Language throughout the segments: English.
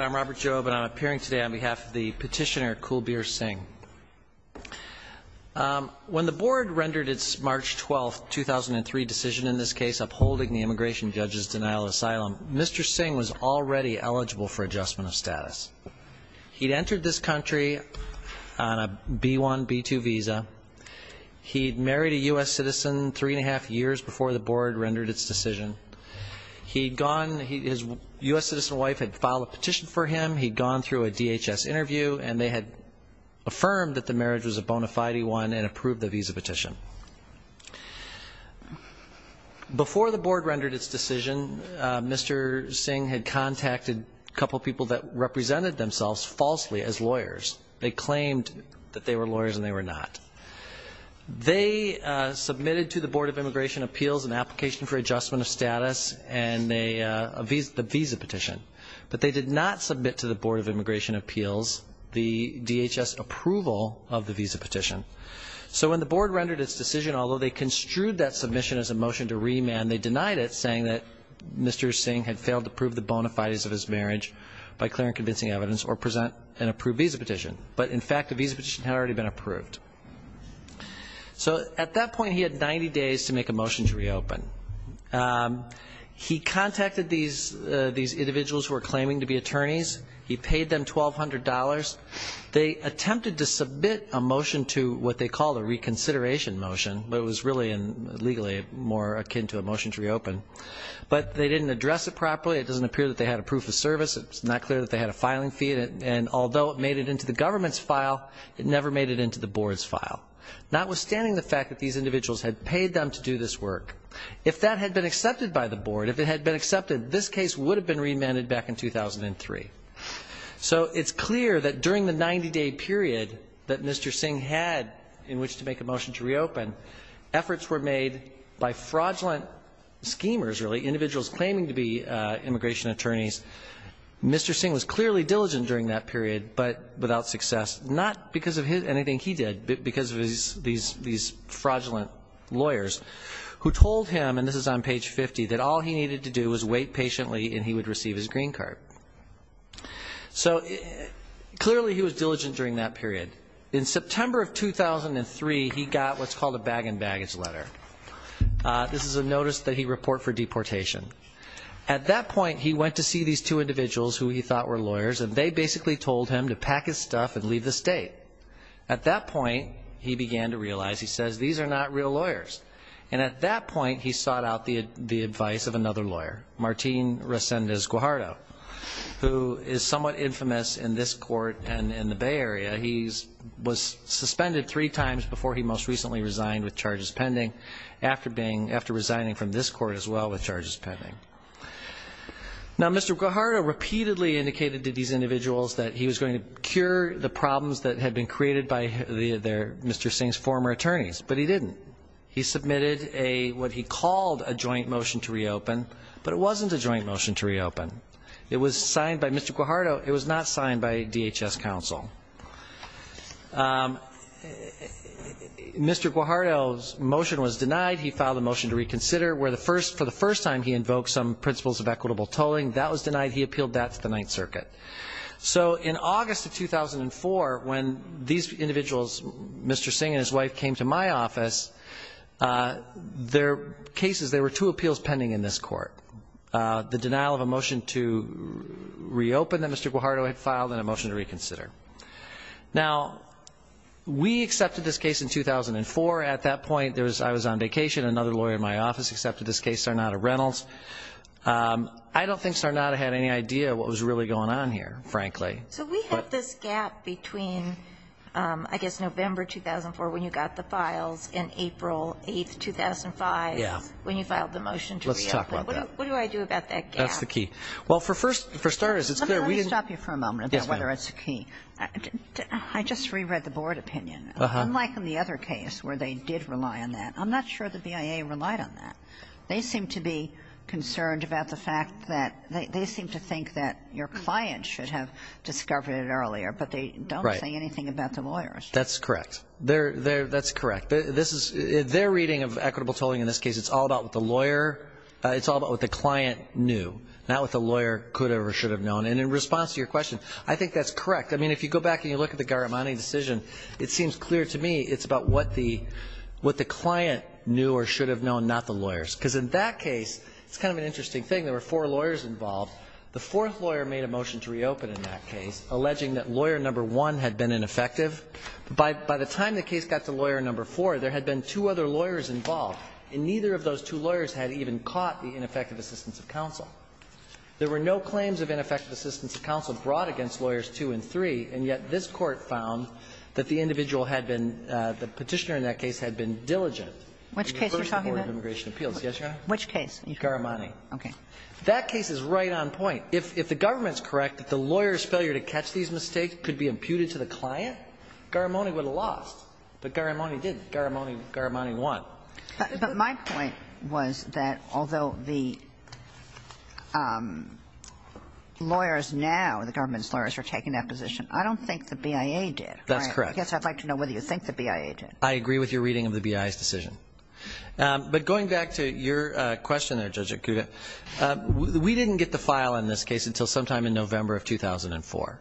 I'm Robert Jobe, and I'm appearing today on behalf of the petitioner Kulbir Singh. When the board rendered its March 12, 2003 decision in this case upholding the immigration judge's denial of asylum, Mr. Singh was already eligible for adjustment of status. He'd entered this country on a B-1, B-2 visa. He'd married a U.S. citizen three and a half years before the board rendered its decision. He'd gone, his U.S. citizen wife had filed a petition for him, he'd gone through a DHS interview, and they had affirmed that the marriage was a bona fide one and approved the visa petition. Before the board rendered its decision, Mr. Singh had contacted a couple people that represented themselves falsely as lawyers. They claimed that they were lawyers and they were not. They submitted to the Board of Immigration Appeals an application for adjustment of status and a visa petition. But they did not submit to the Board of Immigration Appeals the DHS approval of the visa petition. So when the board rendered its decision, although they construed that submission as a motion to remand, they denied it saying that Mr. Singh had failed to prove the bona fides of his marriage by clear and convincing evidence or present an approved visa petition. But in fact, the visa petition had already been approved. So at that point, he had 90 days to make a motion to reopen. He contacted these individuals who were claiming to be attorneys. He paid them $1,200. They attempted to submit a motion to what they called a reconsideration motion, but it was really legally more akin to a motion to reopen. But they didn't address it properly. It doesn't appear that they had a proof of service. It's not clear that they had a filing fee. And although it made it into the government's file, it never made it into the board's file. Notwithstanding the fact that these individuals had paid them to do this work, if that had been accepted by the board, if it had been accepted, this case would have been remanded back in 2003. So it's clear that during the 90-day period that Mr. Singh had in which to make a motion to reopen, efforts were made by fraudulent schemers, really, individuals claiming to be immigration attorneys. Mr. Singh was clearly diligent during that period, but without success, not because of anything he did, but because of these fraudulent lawyers who told him, and this is on page 50, that all he needed to do was wait patiently and he would receive his green card. So clearly he was diligent during that period. In September of 2003, he got what's called a bag and baggage letter. This is a notice that he report for deportation. At that point, he went to see these two individuals who he thought were lawyers, and they basically told him to pack his stuff and leave the state. At that point, he began to realize, he says, these are not real lawyers. And at that point, he sought out the advice of another lawyer, Martín Reséndiz Guajardo, who is somewhat infamous in this court and in the Bay Area. He was suspended three times before he most recently resigned with charges pending, after resigning from this court as well with charges pending. Now, Mr. Guajardo repeatedly indicated to these individuals that he was going to cure the problems that had been created by Mr. Singh's former attorneys, but he didn't. He submitted what he called a joint motion to reopen, but it wasn't a joint motion to reopen. It was signed by Mr. Guajardo. It was not signed by DHS counsel. Mr. Guajardo's motion was denied. He filed a motion to reconsider, where for the first time he invoked some principles of equitable tolling. That was denied. He appealed that to the Ninth Circuit. So in August of 2004, when these individuals, Mr. Singh and his wife, came to my office, there were two appeals pending in this court, the denial of a motion to reopen that Mr. Guajardo had filed and a motion to reconsider. Now, we accepted this case in 2004. At that point, I was on vacation. Another lawyer in my office accepted this case, Sarnata Reynolds. I don't think Sarnata had any idea what was really going on here, frankly. So we have this gap between, I guess, November 2004, when you got the files, and April 8, 2005, when you filed the motion to reopen. Let's talk about that. What do I do about that gap? That's the key. Well, for starters, it's clear we didn't ---- Let me stop you for a moment about whether it's the key. I just reread the board opinion. Unlike in the other case where they did rely on that, I'm not sure the BIA relied on that. They seem to be concerned about the fact that they seem to think that your client should have discovered it earlier, but they don't say anything about the lawyers. That's correct. That's correct. Their reading of equitable tolling in this case, it's all about what the lawyer, it's all about what the client knew, not what the lawyer could have or should have known. And in response to your question, I think that's correct. I mean, if you go back and you look at the Garamani decision, it seems clear to me it's about what the client knew or should have known, not the lawyers. Because in that case, it's kind of an interesting thing. There were four lawyers involved. The fourth lawyer made a motion to reopen in that case, alleging that lawyer number one had been ineffective. By the time the case got to lawyer number four, there had been two other lawyers involved, and neither of those two lawyers had even caught the ineffective assistance of counsel. There were no claims of ineffective assistance of counsel brought against lawyers two and three, and yet this Court found that the individual had been the Petitioner in that case had been diligent in the first report of immigration appeals. Yes, Your Honor? Which case? Garamani. Okay. That case is right on point. If the government's correct that the lawyer's failure to catch these mistakes could be imputed to the client, Garamani would have lost. But Garamani did. Garamani won. But my point was that although the lawyers now, the government's lawyers, are taking that position, I don't think the BIA did. That's correct. I guess I'd like to know whether you think the BIA did. I agree with your reading of the BIA's decision. But going back to your question there, Judge Akuta, we didn't get the file in this case until sometime in November of 2004.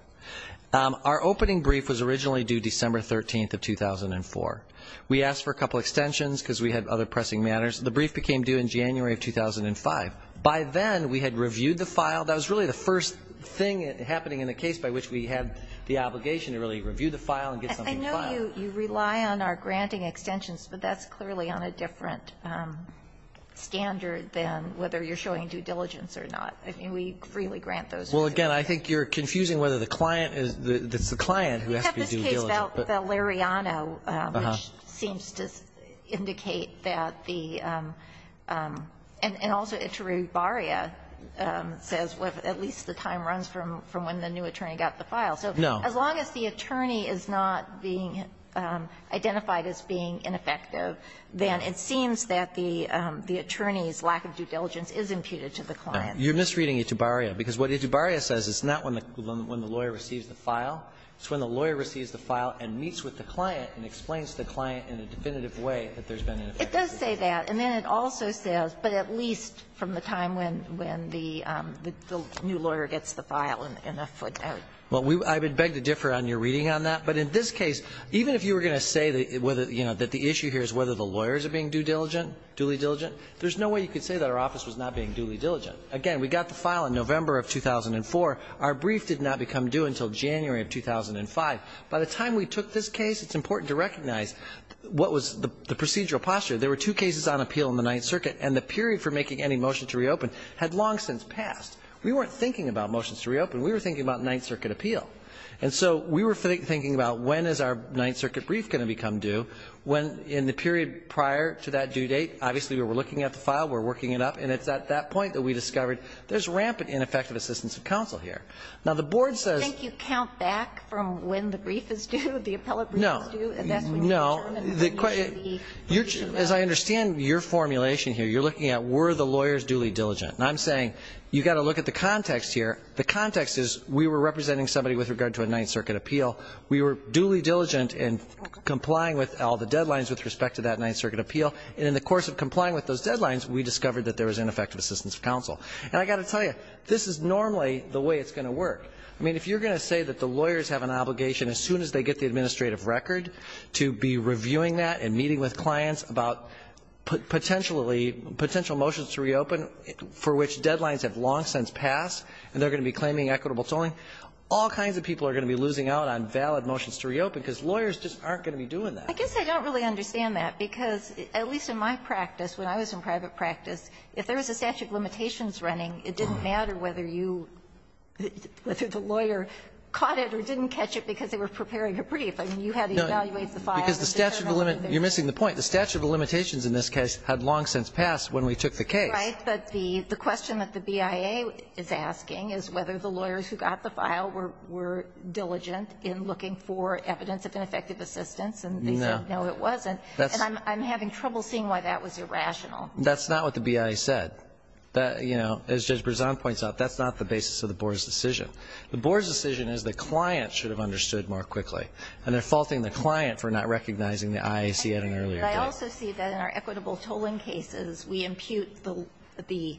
Our opening brief was originally due December 13th of 2004. We asked for a couple extensions because we had other pressing matters. The brief became due in January of 2005. By then, we had reviewed the file. That was really the first thing happening in the case by which we had the obligation to really review the file and get something filed. I know you rely on our granting extensions, but that's clearly on a different standard than whether you're showing due diligence or not. I mean, we freely grant those. Well, again, I think you're confusing whether the client is the client who has to be due diligent. The Lariano, which seems to indicate that the – and also Itubaria says at least the time runs from when the new attorney got the file. No. So as long as the attorney is not being identified as being ineffective, then it seems that the attorney's lack of due diligence is imputed to the client. You're misreading Itubaria, because what Itubaria says is not when the lawyer receives the file, it's when the lawyer receives the file and meets with the client and explains the client in a definitive way that there's been an ineffective case. It does say that, and then it also says, but at least from the time when the new lawyer gets the file in a footnote. Well, I would beg to differ on your reading on that, but in this case, even if you were going to say that the issue here is whether the lawyers are being due diligent, duly diligent, there's no way you could say that our office was not being duly diligent. Again, we got the file in November of 2004. Our brief did not become due until January of 2005. By the time we took this case, it's important to recognize what was the procedural posture. There were two cases on appeal in the Ninth Circuit, and the period for making any motion to reopen had long since passed. We weren't thinking about motions to reopen. We were thinking about Ninth Circuit appeal. And so we were thinking about when is our Ninth Circuit brief going to become due when, in the period prior to that due date, obviously we were looking at the file, we're working it up, and it's at that point that we discovered there's rampant ineffective assistance of counsel here. Now, the board says... Do you think you count back from when the brief is due, the appellate brief is due? No. And that's when you determine when you should be... No. As I understand your formulation here, you're looking at were the lawyers duly diligent. And I'm saying you've got to look at the context here. The context is we were representing somebody with regard to a Ninth Circuit appeal. We were duly diligent in complying with all the deadlines with respect to that discovered that there was ineffective assistance of counsel. And I've got to tell you, this is normally the way it's going to work. I mean, if you're going to say that the lawyers have an obligation as soon as they get the administrative record to be reviewing that and meeting with clients about potentially, potential motions to reopen for which deadlines have long since passed and they're going to be claiming equitable tolling, all kinds of people are going to be losing out on valid motions to reopen because lawyers just aren't going to be doing that. I guess I don't really understand that because, at least in my practice, when I was in private practice, if there was a statute of limitations running, it didn't matter whether you – whether the lawyer caught it or didn't catch it because they were preparing a brief. I mean, you had to evaluate the file and determine whether there was a statute of limitations. Alito You're missing the point. The statute of limitations in this case had long since passed when we took the case. Ginsburg Right. But the question that the BIA is asking is whether the lawyers who got the file were diligent in looking for evidence of ineffective assistance. And they said, no, it wasn't. And I'm having trouble seeing why that was irrational. Alito That's not what the BIA said. That, you know, as Judge Berzon points out, that's not the basis of the board's decision. The board's decision is the client should have understood more quickly. And they're faulting the client for not recognizing the IAC at an earlier date. Ginsburg And I also see that in our equitable tolling cases, we impute the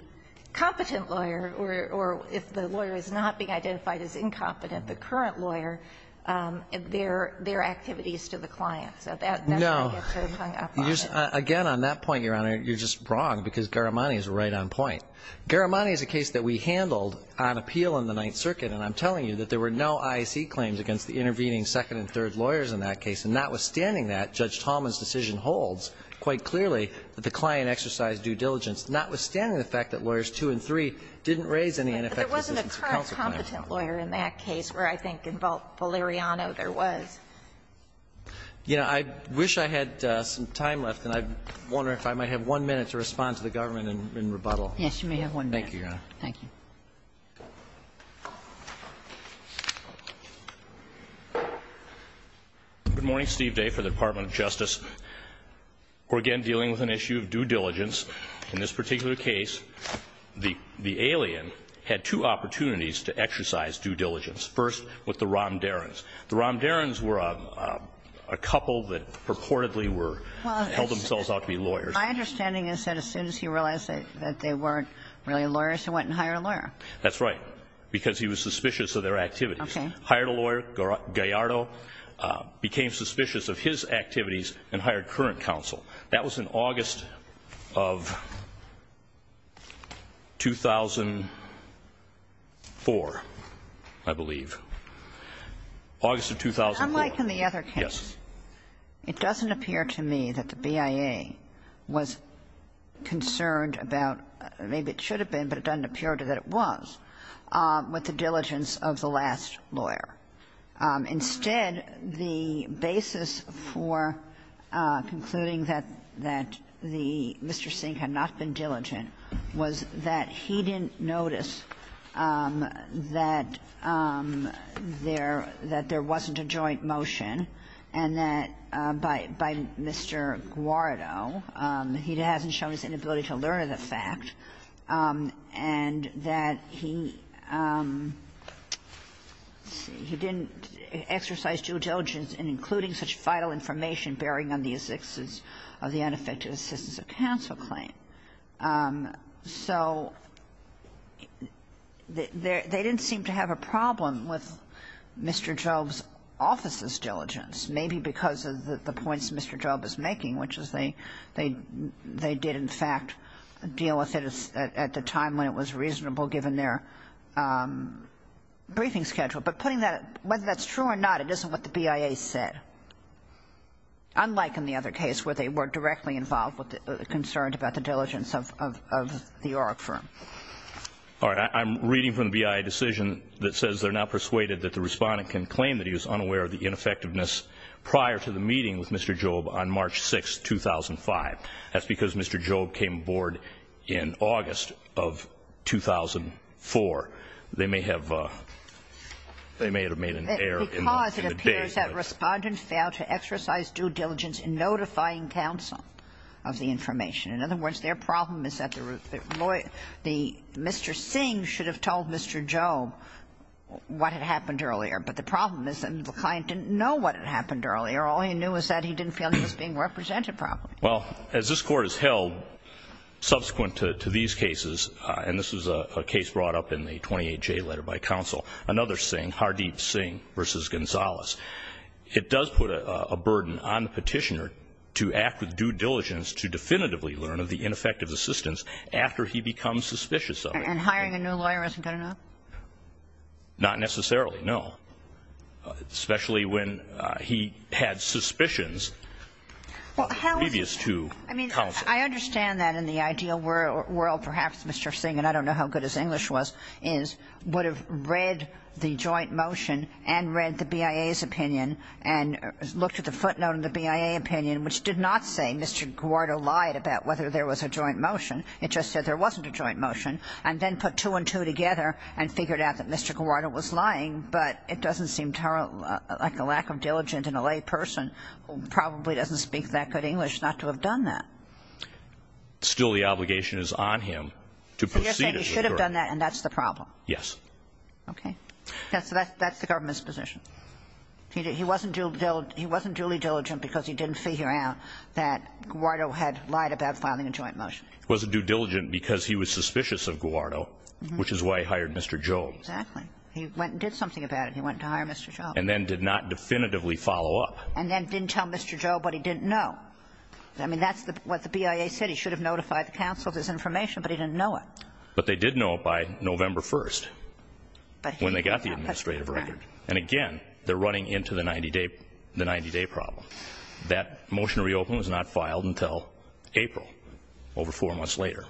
competent lawyer, or if the lawyer is not being identified as incompetent, the current lawyer, their activities to the client. So that's where it gets hung up on us. Alito No. Again, on that point, Your Honor, you're just wrong because Garamani is right on point. Garamani is a case that we handled on appeal in the Ninth Circuit. And I'm telling you that there were no IAC claims against the intervening second and third lawyers in that case. And notwithstanding that, Judge Tallman's decision holds quite clearly that the client exercised due diligence, notwithstanding the fact that lawyers two and three didn't raise any ineffective assistance for counsel. Ginsburg But there wasn't a current competent lawyer in that case where I think in Valeriano there was. Alito Yeah. I wish I had some time left, and I wonder if I might have one minute to respond to the government in rebuttal. Ginsburg Yes, you may have one minute. Alito Thank you, Your Honor. Ginsburg Thank you. Roberts Good morning. Steve Day for the Department of Justice. We're again dealing with an issue of due diligence. In this particular case, the alien had two opportunities to exercise due diligence. First, with the Romdarens. The Romdarens were a couple that purportedly were, held themselves out to be lawyers. Ginsburg My understanding is that as soon as he realized that they weren't really lawyers, he went and hired a lawyer. Alito That's right, because he was suspicious of their activities. Ginsburg Okay. Alito Hired a lawyer, Gallardo, became suspicious of his activities and hired current counsel. That was in August of 2004, I believe. August of 2004. Ginsburg Unlike in the other cases, it doesn't appear to me that the BIA was concerned about, maybe it should have been, but it doesn't appear that it was, with the diligence of the last lawyer. Instead, the basis for concluding that the Mr. Sink had not been diligent was that he didn't notice that there wasn't a joint motion and that by Mr. Gallardo, he hasn't shown his inability to learn of the fact, and that he didn't exercise due diligence in including such vital information bearing on the existence of the unaffected assistance of counsel claim. So they didn't seem to have a problem with Mr. Job's office's diligence, maybe because of the points Mr. Job is making, which is they did, in fact, deal with it at the time when it was reasonable, given their briefing schedule. But putting that, whether that's true or not, it isn't what the BIA said, unlike in the other case where they were directly involved, concerned about the diligence of the ORIC firm. Alito All right. I'm reading from the BIA decision that says they're now persuaded that the Respondent can claim that he was unaware of the ineffectiveness prior to the meeting with Mr. Job on March 6th, 2005. That's because Mr. Job came aboard in August of 2004. They may have made an error in the day. Because it appears that Respondent failed to exercise due diligence in notifying counsel of the information. In other words, their problem is that the lawyer, Mr. Sink should have told Mr. Job what had happened earlier. But the problem is that the client didn't know what had happened earlier. All he knew is that he didn't feel he was being represented properly. Well, as this Court has held, subsequent to these cases, and this is a case brought up in the 28J letter by counsel, another Sink, Hardeep Sink v. Gonzales, it does put a burden on the Petitioner to act with due diligence to definitively learn of the ineffective assistance after he becomes suspicious of it. And hiring a new lawyer isn't good enough? Not necessarily, no. Especially when he had suspicions of the previous two counsels. I mean, I understand that in the ideal world, perhaps Mr. Sink, and I don't know how good his English was, is would have read the joint motion and read the BIA's opinion and looked at the footnote in the BIA opinion, which did not say Mr. Guardo lied about whether there was a joint motion. It just said there wasn't a joint motion, and then put two and two together and figured out that Mr. Guardo was lying, but it doesn't seem like a lack of diligence in a layperson who probably doesn't speak that good English not to have done that. Still, the obligation is on him to proceed as a juror. So you're saying he should have done that and that's the problem? Yes. Okay. That's the government's position. He wasn't duly diligent because he didn't figure out that Guardo had lied about filing a joint motion. He wasn't due diligent because he was suspicious of Guardo, which is why he hired Mr. Job. Exactly. He went and did something about it. He went to hire Mr. Job. And then did not definitively follow up. And then didn't tell Mr. Job what he didn't know. I mean, that's what the BIA said. He should have notified the counsel of this information, but he didn't know it. But they did know it by November 1st when they got the administrative record. And again, they're running into the 90-day problem. That motion to reopen was not filed until April, over four months later.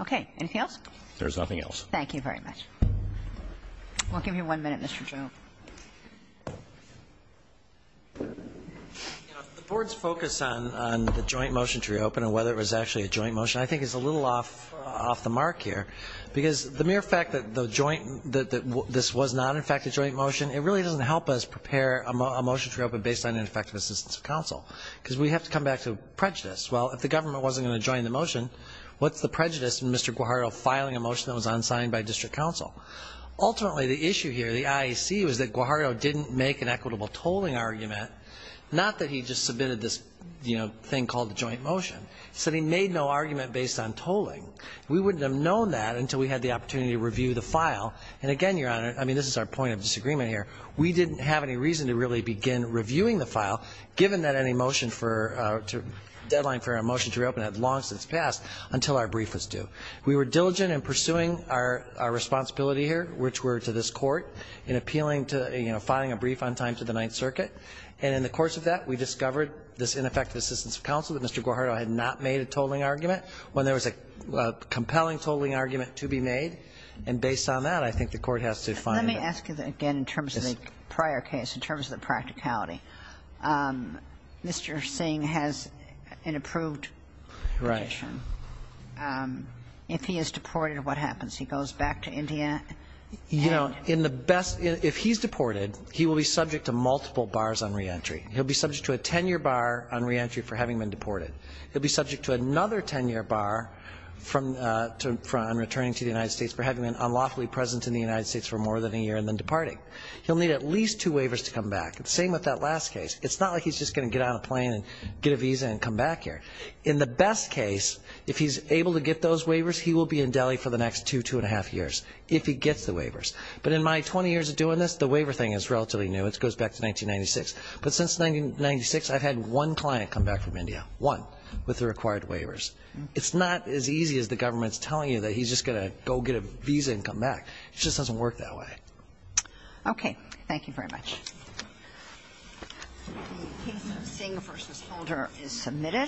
Okay. Anything else? There's nothing else. Thank you very much. We'll give you one minute, Mr. Job. The Board's focus on the joint motion to reopen and whether it was actually a joint motion I think is a little off the mark here. Because the mere fact that this was not, in fact, a joint motion, it really doesn't help us prepare a motion to reopen based on ineffective assistance of counsel. Because we have to come back to prejudice. Well, if the government wasn't going to join the motion, what's the prejudice in Mr. Guardo filing a motion that was unsigned by district counsel? Ultimately, the issue here, the IEC, was that Guardo didn't make an equitable tolling argument. Not that he just submitted this, you know, thing called the joint motion. He said he made no argument based on tolling. We wouldn't have known that until we had the opportunity to review the file. And, again, Your Honor, I mean, this is our point of disagreement here. We didn't have any reason to really begin reviewing the file, given that any motion for to deadline for a motion to reopen had long since passed until our brief was due. We were diligent in pursuing our responsibility here, which were to this court, in appealing to, you know, filing a brief on time to the Ninth Circuit. And in the course of that, we discovered this ineffective assistance of counsel that Mr. Guardo had not made a tolling argument when there was a compelling tolling argument to be made. And based on that, I think the Court has to find that. Kagan. Let me ask you again in terms of the prior case, in terms of the practicality. Mr. Singh has an approved condition. Right. If he is deported, what happens? He goes back to India? You know, in the best – if he's deported, he will be subject to multiple bars on reentry. He'll be subject to a 10-year bar on reentry for having been deported. He'll be subject to another 10-year bar from – on returning to the United States for having been unlawfully present in the United States for more than a year and then departing. He'll need at least two waivers to come back. Same with that last case. It's not like he's just going to get on a plane and get a visa and come back here. In the best case, if he's able to get those waivers, he will be in Delhi for the next two, two and a half years, if he gets the waivers. But in my 20 years of doing this, the waiver thing is relatively new. It goes back to 1996. But since 1996, I've had one client come back from India, one, with the required waivers. It's not as easy as the government's telling you that he's just going to go get a visa and come back. It just doesn't work that way. Okay. Thank you very much. The case of Singh v. Holder is submitted.